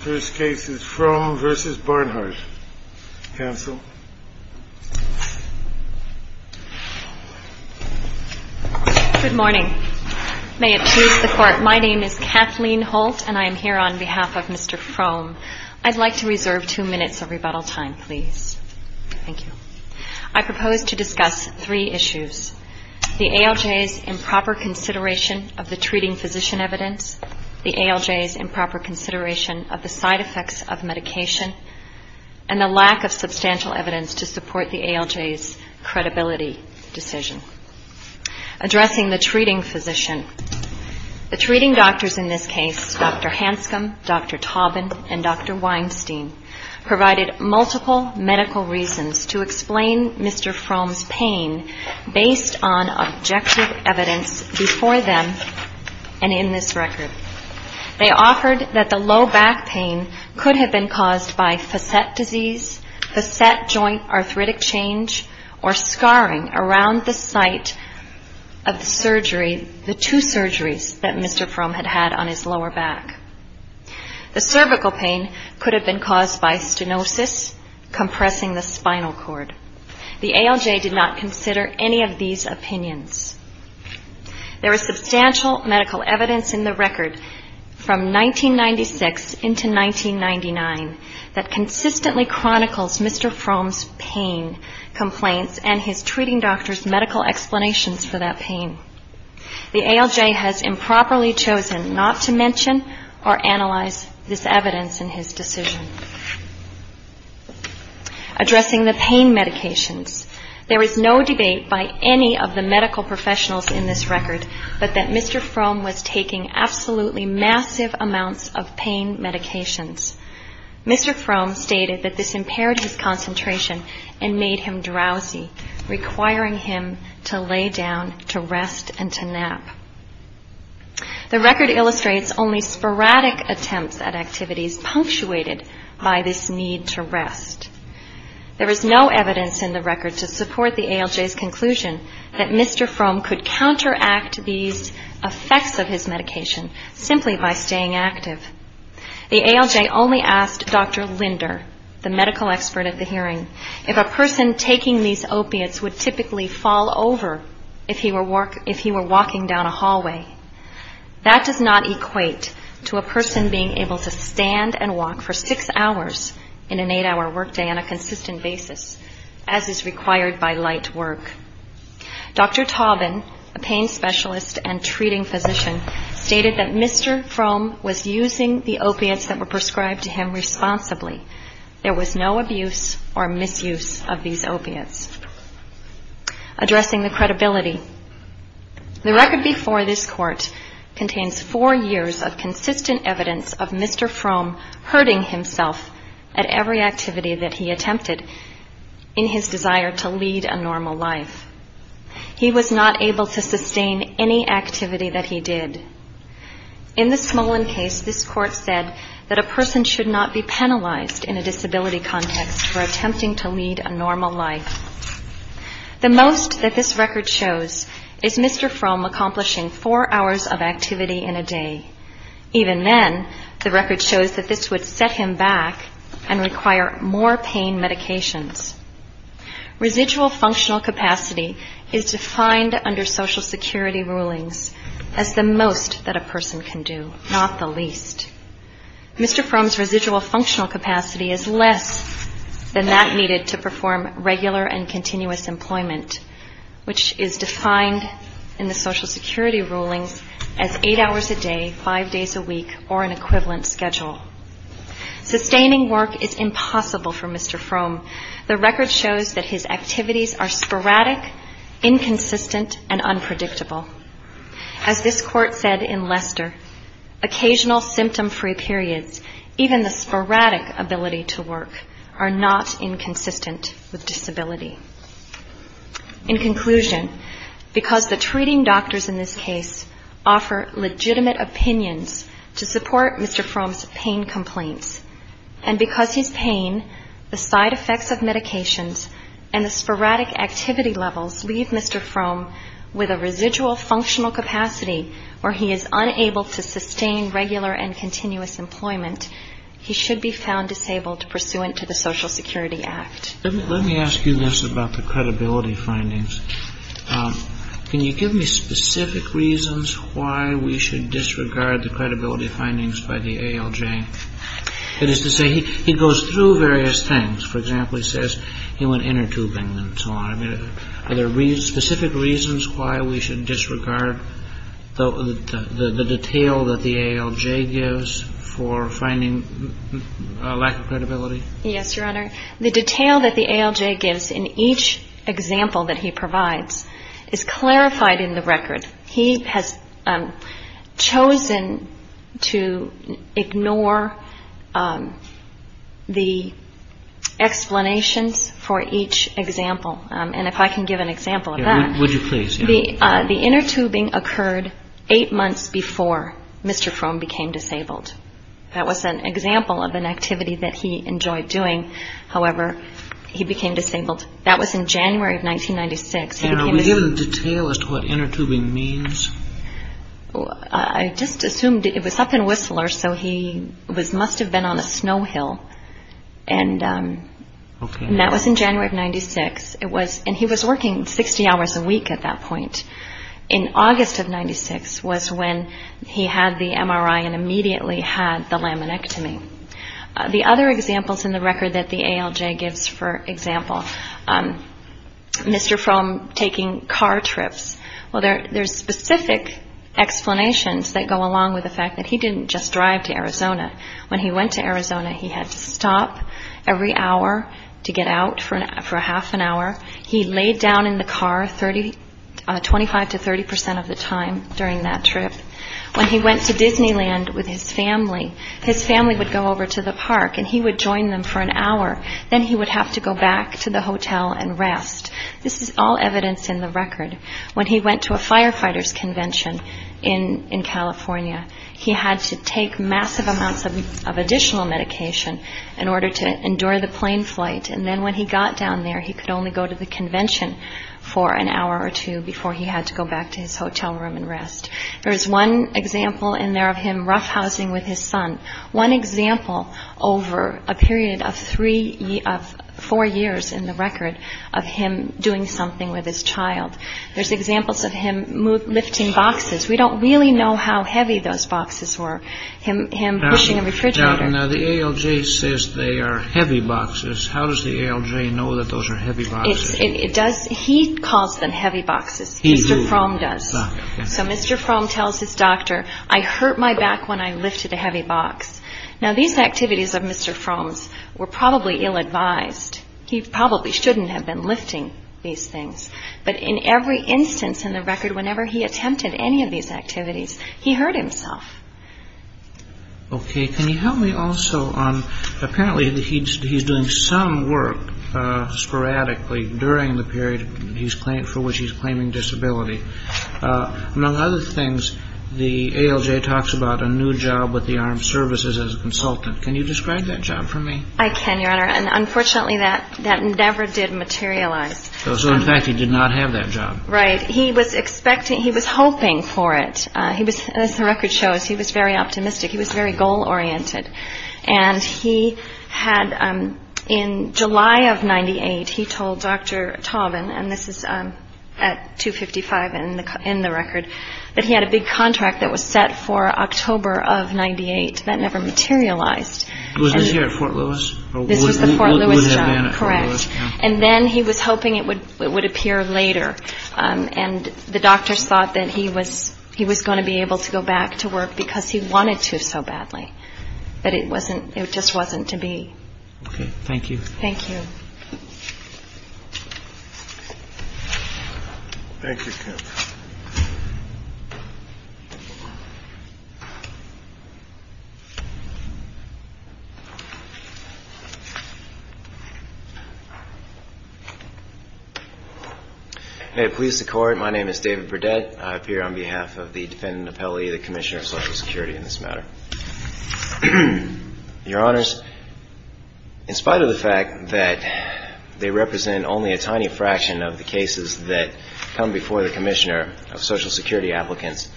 My name is Kathleen Holt and I am here on behalf of Mr. Frohm. I'd like to reserve two minutes of rebuttal time, please. Thank you. I propose to discuss three issues. The ALJ's improper consideration of the treating physician evidence, the ALJ's improper consideration of the side effects of medication, and the lack of substantial evidence to support the ALJ's credibility decision. Addressing the treating physician, the treating doctors in this case, Dr. Hanscom, Dr. Taubin, and Dr. Weinstein, provided multiple medical reasons to explain Mr. Frohm's pain based on objective evidence before them and in this record. They offered that the low back pain could have been caused by facet disease, facet joint arthritic change, or scarring around the site of the two surgeries that Mr. Frohm had had on his lower back. The cervical pain could have been caused by stenosis, compressing the spinal cord. The ALJ did not consider any of these opinions. There is substantial medical evidence in the record from 1996 into 1999 that consistently chronicles Mr. Frohm's pain complaints and his treating doctor's medical explanations for that pain. The ALJ has improperly chosen not to mention or analyze this evidence in his decision. Addressing the pain medications, there is no debate by any of the medical professionals in this record but that Mr. Frohm was taking absolutely massive amounts of pain medications. Mr. Frohm stated that this impaired his concentration and made him drowsy, requiring him to lay down to rest and to nap. The record illustrates only sporadic attempts at activities punctuated by this need to rest. There is no evidence in the record to support the ALJ's conclusion that Mr. Frohm could counteract these effects of his medication simply by staying active. The ALJ only asked Dr. Linder, the medical expert at the hearing, if a person taking these opiates would typically fall over if he were walking down a hallway. That does not equate to a person being able to stand and walk for six hours in an eight-hour workday on a consistent basis, as is required by light work. Dr. Taubin, a pain specialist and treating physician, stated that Mr. Frohm was using the opiates that were prescribed to him responsibly. There was no abuse or misuse of these opiates. Addressing the credibility, the record before this court contains four years of consistent evidence of Mr. Frohm hurting himself at every activity that he attempted in his desire to lead a normal life. He was not able to sustain any activity that he did. In the Smolin case, this court said that a person should not be penalized in a disability context for attempting to lead a normal life. The most that this record shows is Mr. Frohm accomplishing four hours of activity in a day. Even then, the record shows that this would set him back and require more pain medications. Residual functional capacity is defined under Social Security rulings as the most that a person can do, not the least. Mr. Frohm's residual functional capacity is less than that needed to perform regular and continuous employment, which is defined in the Social Security rulings as eight hours a day, five days a week, or an equivalent schedule. Sustaining work is impossible for Mr. Frohm. The record shows that his activities are sporadic, inconsistent, and unpredictable. As this court said in Lester, occasional symptom-free periods, even the sporadic ability to work, are not inconsistent with disability. In conclusion, because the treating doctors in this case offer legitimate opinions to support Mr. Frohm's pain complaints, and because his pain, the side effects of medications, and the sporadic activity levels leave Mr. Frohm with a residual functional capacity where he is unable to sustain regular and continuous employment, he should be found disabled pursuant to the Social Security Act. Let me ask you this about the credibility findings. Can you give me specific reasons why we should disregard the credibility findings by the ALJ? That is to say, he goes through various things. For example, he says he went inner-tubing and so on. Are there specific reasons why we should disregard the detail that the ALJ gives for finding a lack of credibility? Yes, Your Honor. The detail that the ALJ gives in each example that he provides is clarified in the record. He has chosen to ignore the explanations for each example. And if I can give an example of that. Would you please? The inner-tubing occurred eight months before Mr. Frohm became disabled. That was an example of an activity that he enjoyed doing. However, he became disabled. That was in January of 1996. And are we given the detail as to what inner-tubing means? I just assumed it was up in Whistler, so he must have been on a snow hill. And that was in January of 96. And he was working 60 hours a week at that point. In August of 96 was when he had the MRI and immediately had the laminectomy. The other examples in the record that the ALJ gives, for example, Mr. Frohm taking car trips. Well, there's specific explanations that go along with the fact that he didn't just drive to Arizona. When he went to Arizona, he had to stop every hour to get out for half an hour. He laid down in the car 25 to 30 percent of the time during that trip. When he went to Disneyland with his family, his family would go over to the park, and he would join them for an hour. Then he would have to go back to the hotel and rest. This is all evidence in the record. When he went to a firefighter's convention in California, he had to take massive amounts of additional medication in order to endure the plane flight. And then when he got down there, he could only go to the convention for an hour or two before he had to go back to his hotel room and rest. There is one example in there of him roughhousing with his son. One example over a period of three of four years in the record of him doing something with his child. There's examples of him lifting boxes. We don't really know how heavy those boxes were. Now, the ALJ says they are heavy boxes. How does the ALJ know that those are heavy boxes? He calls them heavy boxes. Mr. Fromm does. So Mr. Fromm tells his doctor, I hurt my back when I lifted a heavy box. Now, these activities of Mr. Fromm's were probably ill-advised. He probably shouldn't have been lifting these things. But in every instance in the record, whenever he attempted any of these activities, he hurt himself. Okay. Can you help me also on apparently he's doing some work sporadically during the period for which he's claiming disability. Among other things, the ALJ talks about a new job with the armed services as a consultant. Can you describe that job for me? I can, Your Honor. And unfortunately, that never did materialize. So, in fact, he did not have that job. Right. He was expecting, he was hoping for it. He was, as the record shows, he was very optimistic. He was very goal-oriented. And he had, in July of 98, he told Dr. Tauben, and this is at 255 in the record, that he had a big contract that was set for October of 98 that never materialized. Was this here at Fort Lewis? This was the Fort Lewis job. Correct. And then he was hoping it would appear later. And the doctors thought that he was going to be able to go back to work because he wanted to so badly. But it wasn't, it just wasn't to be. Okay. Thank you. Thank you. Thank you, Kim. Thank you. May it please the Court, my name is David Burdett. I appear on behalf of the defendant appellee, the Commissioner of Social Security in this matter. Your Honors, in spite of the fact that they represent only a tiny fraction of the cases that come before the Commissioner of Social Security applicants,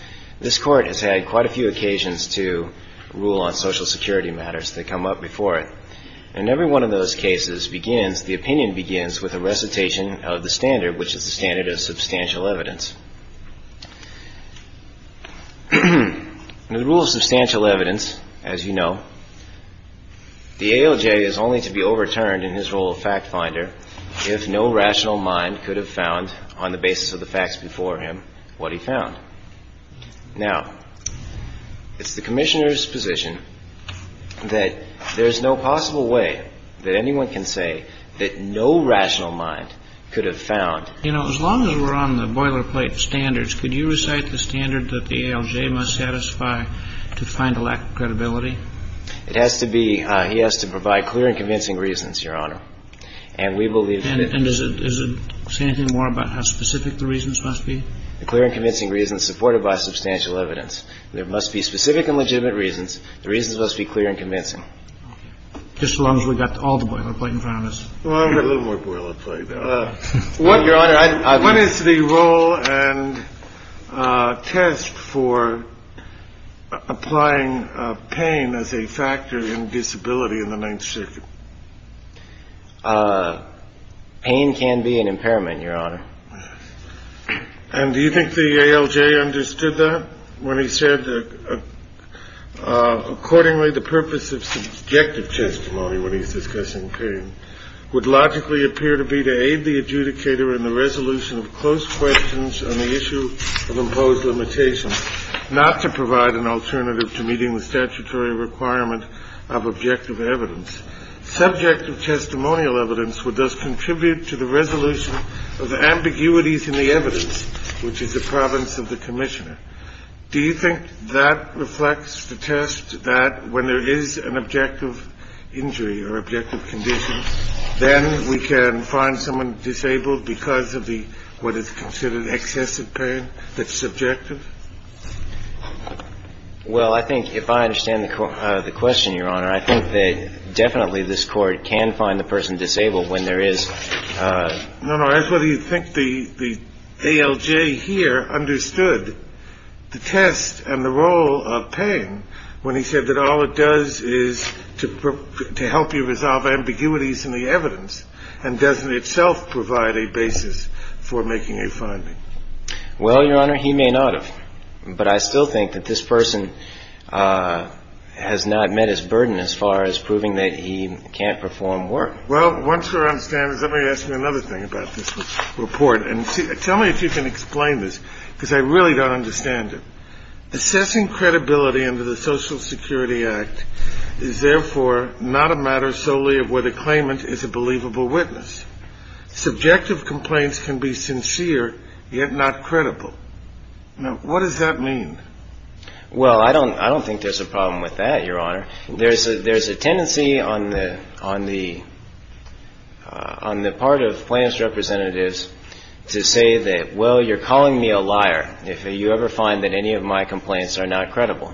this Court has had quite a few occasions to rule on Social Security matters that come up before it. And every one of those cases begins, the opinion begins with a recitation of the standard, which is the standard of substantial evidence. The rule of substantial evidence, as you know, the ALJ is only to be overturned in his role of fact finder if no rational mind could have found on the basis of the facts before him what he found. Now, it's the Commissioner's position that there's no possible way that anyone can say that no rational mind could have found. You know, as long as we're on the boilerplate standards, could you recite the standard that the ALJ must satisfy to find a lack of credibility? It has to be. He has to provide clear and convincing reasons, Your Honor. And we believe. And does it say anything more about how specific the reasons must be? The clear and convincing reasons supported by substantial evidence. There must be specific and legitimate reasons. The reasons must be clear and convincing. Just as long as we've got all the boilerplate in front of us. A little more boilerplate. What, Your Honor? What is the role and test for applying pain as a factor in disability in the Ninth Circuit? Pain can be an impairment, Your Honor. And do you think the ALJ understood that when he said that, accordingly, the purpose of subjective testimony when he's discussing pain would logically appear to be to aid the adjudicator in the resolution of close questions on the issue of imposed limitations, not to provide an alternative to meeting the statutory requirement of objective evidence? Subjective testimonial evidence would thus contribute to the resolution of ambiguities in the evidence, which is the province of the commissioner. Do you think that reflects the test that when there is an objective injury or objective condition, then we can find someone disabled because of the what is considered excessive pain that's subjective? Well, I think if I understand the question, Your Honor, I think that definitely this court can find the person disabled when there is. No, no, I ask whether you think the ALJ here understood the test and the role of pain when he said that all it does is to help you resolve ambiguities in the evidence and doesn't itself provide a basis for making a finding. Well, Your Honor, he may not have. But I still think that this person has not met his burden as far as proving that he can't perform work. Well, once we're on standards, let me ask you another thing about this report. And tell me if you can explain this, because I really don't understand it. Assessing credibility under the Social Security Act is, therefore, not a matter solely of whether claimant is a believable witness. Subjective complaints can be sincere, yet not credible. Now, what does that mean? Well, I don't think there's a problem with that, Your Honor. There's a tendency on the part of claimant's representatives to say that, well, you're calling me a liar if you ever find that any of my complaints are not credible.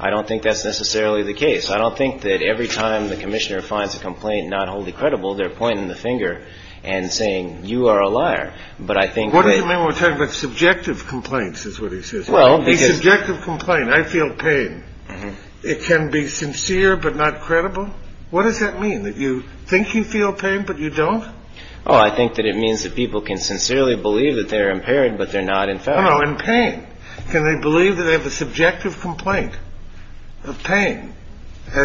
I don't think that's necessarily the case. I don't think that every time the commissioner finds a complaint not wholly credible, they're pointing the finger and saying, you are a liar. What do you mean when we're talking about subjective complaints, is what he says? Well, the subjective complaint, I feel pain. It can be sincere, but not credible. What does that mean, that you think you feel pain, but you don't? Oh, I think that it means that people can sincerely believe that they're impaired, but they're not in fact in pain. Can they believe that they have a subjective complaint of pain?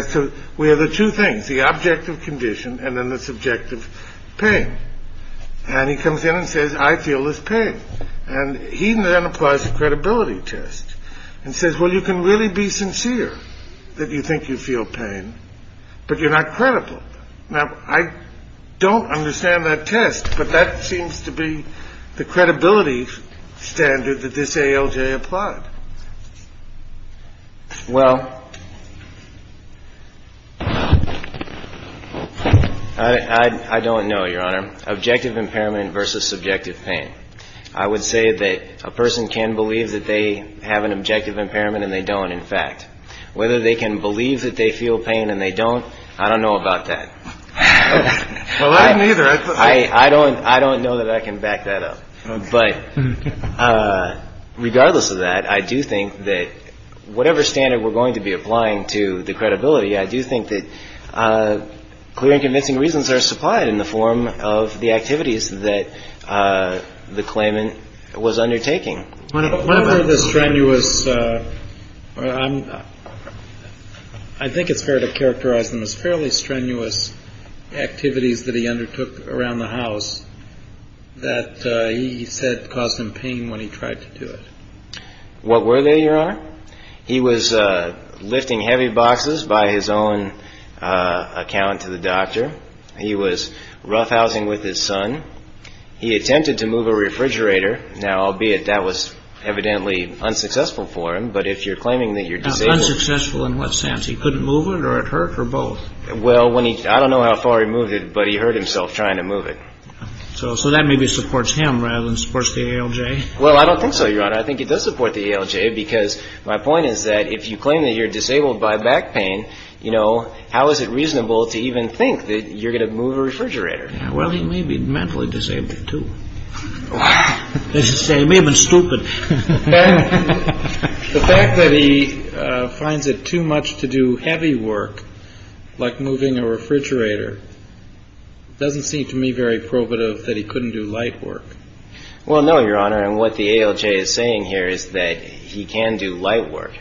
So we have the two things, the objective condition and then the subjective pain. And he comes in and says, I feel this pain. And he then applies the credibility test and says, well, you can really be sincere that you think you feel pain, but you're not credible. Now, I don't understand that test, but that seems to be the credibility standard that this ALJ applied. Well, I don't know, Your Honor. Objective impairment versus subjective pain. I would say that a person can believe that they have an objective impairment and they don't, in fact. Whether they can believe that they feel pain and they don't, I don't know about that. Well, I neither. I don't know that I can back that up. But regardless of that, I do think that whatever standard we're going to be applying to the credibility, I do think that clear and convincing reasons are supplied in the form of the activities that the claimant was undertaking. One of the strenuous, I think it's fair to characterize them as fairly strenuous activities that he undertook around the house that he said caused him pain when he tried to do it. He was lifting heavy boxes by his own account to the doctor. He was roughhousing with his son. He attempted to move a refrigerator. Now, albeit that was evidently unsuccessful for him, but if you're claiming that you're disabled. Unsuccessful in what sense? He couldn't move it or it hurt or both? Well, I don't know how far he moved it, but he hurt himself trying to move it. So that maybe supports him rather than supports the ALJ? Well, I don't think so, Your Honor. I think it does support the ALJ because my point is that if you claim that you're disabled by back pain, you know, how is it reasonable to even think that you're going to move a refrigerator? Well, he may be mentally disabled, too. Wow. He may have been stupid. The fact that he finds it too much to do heavy work, like moving a refrigerator, doesn't seem to me very probative that he couldn't do light work. Well, no, Your Honor. And what the ALJ is saying here is that he can do light work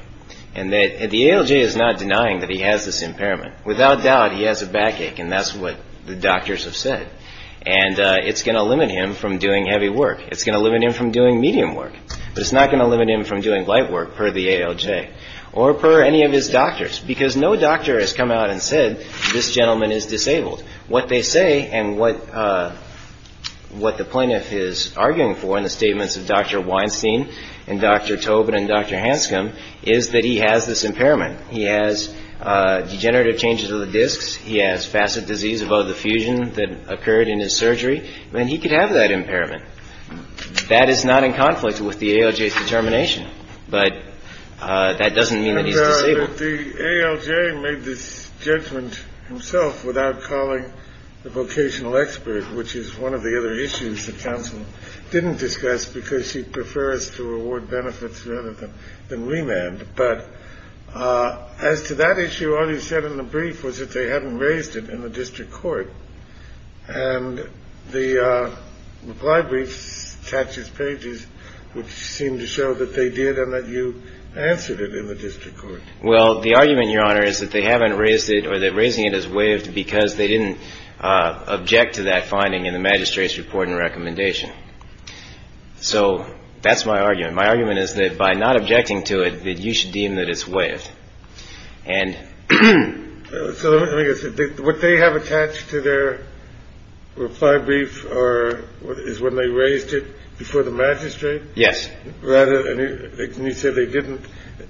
and that the ALJ is not denying that he has this impairment. Without doubt, he has a backache, and that's what the doctors have said. And it's going to limit him from doing heavy work. It's going to limit him from doing medium work. But it's not going to limit him from doing light work per the ALJ or per any of his doctors because no doctor has come out and said, this gentleman is disabled. What they say and what the plaintiff is arguing for in the statements of Dr. Weinstein and Dr. Tobin and Dr. Hanscom is that he has this impairment. He has degenerative changes of the discs. He has facet disease above the fusion that occurred in his surgery. He could have that impairment. But that doesn't mean that he's disabled. The ALJ made this judgment himself without calling the vocational expert, which is one of the other issues the counsel didn't discuss because she prefers to reward benefits rather than remand. But as to that issue, all he said in the brief was that they hadn't raised it in the district court. And the library's taxes pages would seem to show that they did and that you answered it in the district court. Well, the argument, Your Honor, is that they haven't raised it or they're raising it as waived because they didn't object to that finding in the magistrate's report and recommendation. So that's my argument. My argument is that by not objecting to it, that you should deem that it's waived. And so what they have attached to their reply brief or what is when they raised it before the magistrate. Yes. Rather than you said, they didn't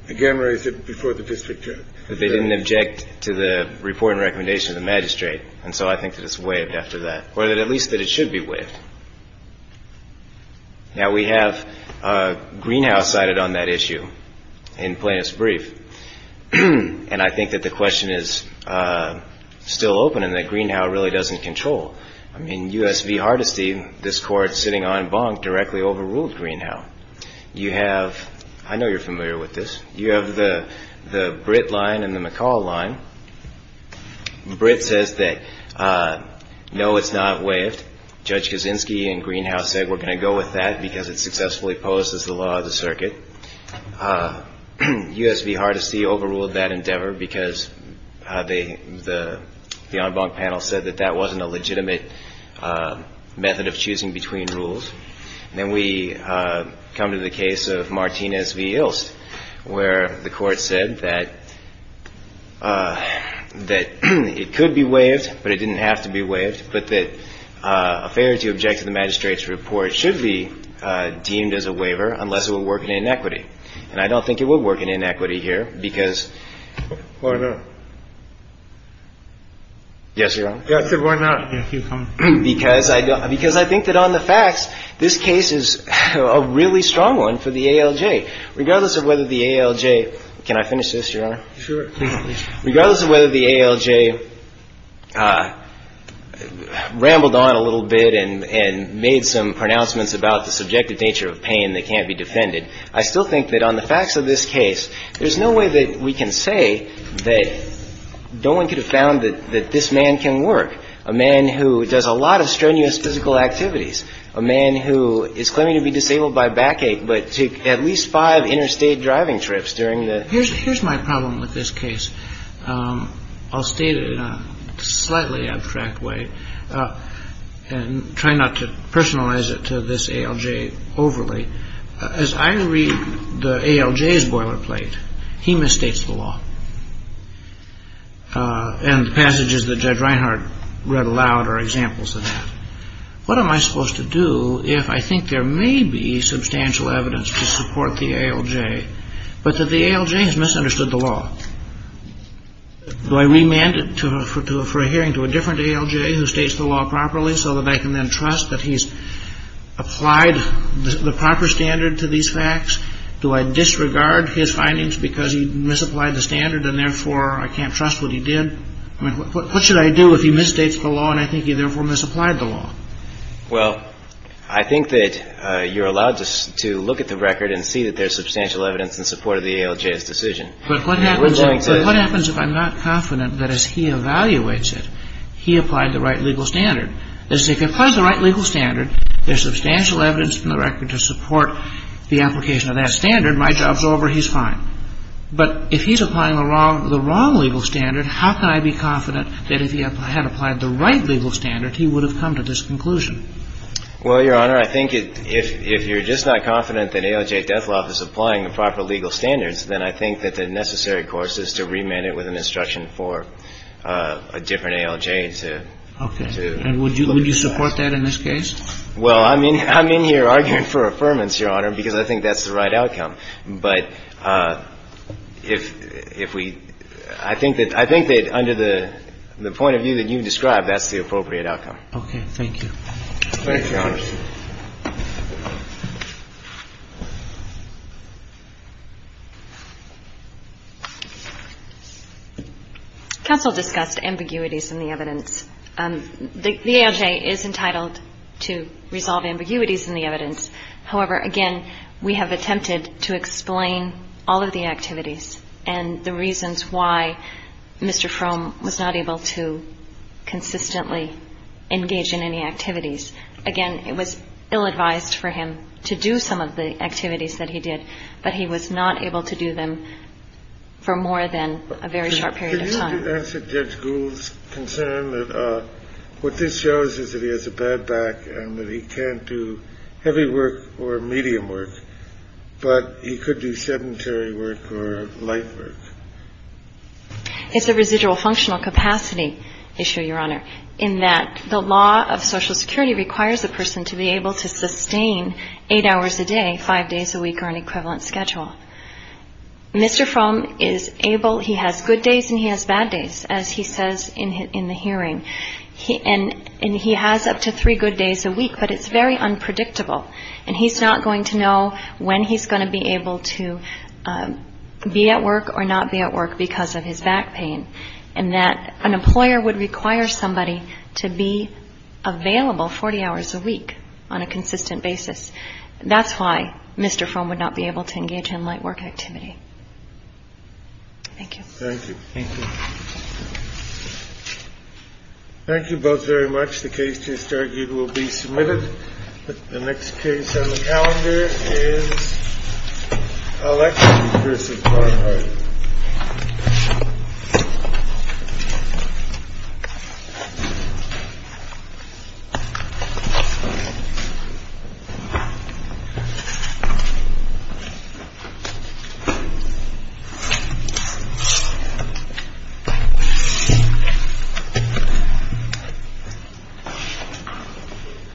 again raise it before the district. They didn't object to the report and recommendation of the magistrate. And so I think that it's waived after that or that at least that it should be waived. Now, we have Greenhouse cited on that issue in plaintiff's brief. And I think that the question is still open and that Greenhow really doesn't control. I mean, U.S. v. Hardesty, this court sitting on Bonk directly overruled Greenhow. You have I know you're familiar with this. You have the the Britt line and the McCall line. Britt says that, no, it's not waived. Judge Kaczynski and Greenhouse said we're going to go with that because it successfully opposes the law of the circuit. U.S. v. Hardesty overruled that endeavor because they the the Bonk panel said that that wasn't a legitimate method of choosing between rules. And then we come to the case of Martinez v. Ilst, where the court said that that it could be waived, but it didn't have to be waived. But that a failure to object to the magistrate's report should be deemed as a waiver unless it will work in inequity. And I don't think it will work in inequity here because. And one's not going to be able to speak to the individual to say, you know, Oh, looks prefer to assume the proceeding! Oh, yeah, because Oh yes. Yes, Your Honor. I said why not because I don't because I think that on the facts, this case is a really strong one for the A.L.J., regardless of whether the A.L.J. rambled on a little bit and made some pronouncements about the subjective nature of pain that can't be defended. I still think that on the facts of this case, there's no way that we can say that no one could have found that this man can work. A man who does a lot of strenuous physical activities, a man who is claiming to be disabled by backache, but took at least five interstate driving trips during the. Here's my problem with this case. I'll state it in a slightly abstract way and try not to personalize it to this A.L.J. overly. As I read the A.L.J.'s boilerplate, he misstates the law. And the passages that Judge Reinhardt read aloud are examples of that. What am I supposed to do if I think there may be substantial evidence to support the A.L.J., but that the A.L.J. has misunderstood the law? Do I remand it for a hearing to a different A.L.J. who states the law properly so that I can then trust that he's applied the proper standard to these facts? Do I disregard his findings because he misapplied the standard and therefore I can't trust what he did? What should I do if he misstates the law and I think he therefore misapplied the law? Well, I think that you're allowed to look at the record and see that there's substantial evidence in support of the A.L.J.'s decision. But what happens if I'm not confident that as he evaluates it, he applied the right legal standard? If he applies the right legal standard, there's substantial evidence in the record to support the application of that standard. My job's over. He's fine. But if he's applying the wrong legal standard, how can I be confident that if he had applied the right legal standard, he would have come to this conclusion? Well, Your Honor, I think if you're just not confident that A.L.J. Dethloff is applying the proper legal standards, then I think that the necessary course is to remand it with an instruction for a different A.L.J. to look at it. Okay. And would you support that in this case? Well, I'm in here arguing for affirmance, Your Honor, because I think that's the right outcome. But if we – I think that under the point of view that you described, that's the appropriate outcome. Okay. Thank you. Thank you, Your Honor. Counsel discussed ambiguities in the evidence. The A.L.J. is entitled to resolve ambiguities in the evidence. However, again, we have attempted to explain all of the activities and the reasons why Mr. Fromm was not able to consistently engage in any activities. Again, it was ill-advised for him to do some of the activities that he did, but he was not able to do them for more than a very short period of time. Could you answer Judge Gould's concern that what this shows is that he has a bad back and that he can't do heavy work or medium work, but he could do sedentary work or light work? It's a residual functional capacity issue, Your Honor, in that the law of Social Security requires a person to be able to sustain eight hours a day, five days a week, or an equivalent schedule. Mr. Fromm is able, he has good days and he has bad days, as he says in the hearing. And he has up to three good days a week, but it's very unpredictable. And he's not going to know when he's going to be able to be at work or not be at work because of his back pain, and that an employer would require somebody to be available 40 hours a week on a consistent basis. That's why Mr. Fromm would not be able to engage in light work activity. Thank you. Thank you. Thank you. Thank you both very much. The case to be argued will be submitted. The next case on the calendar is Alex versus Barnhart.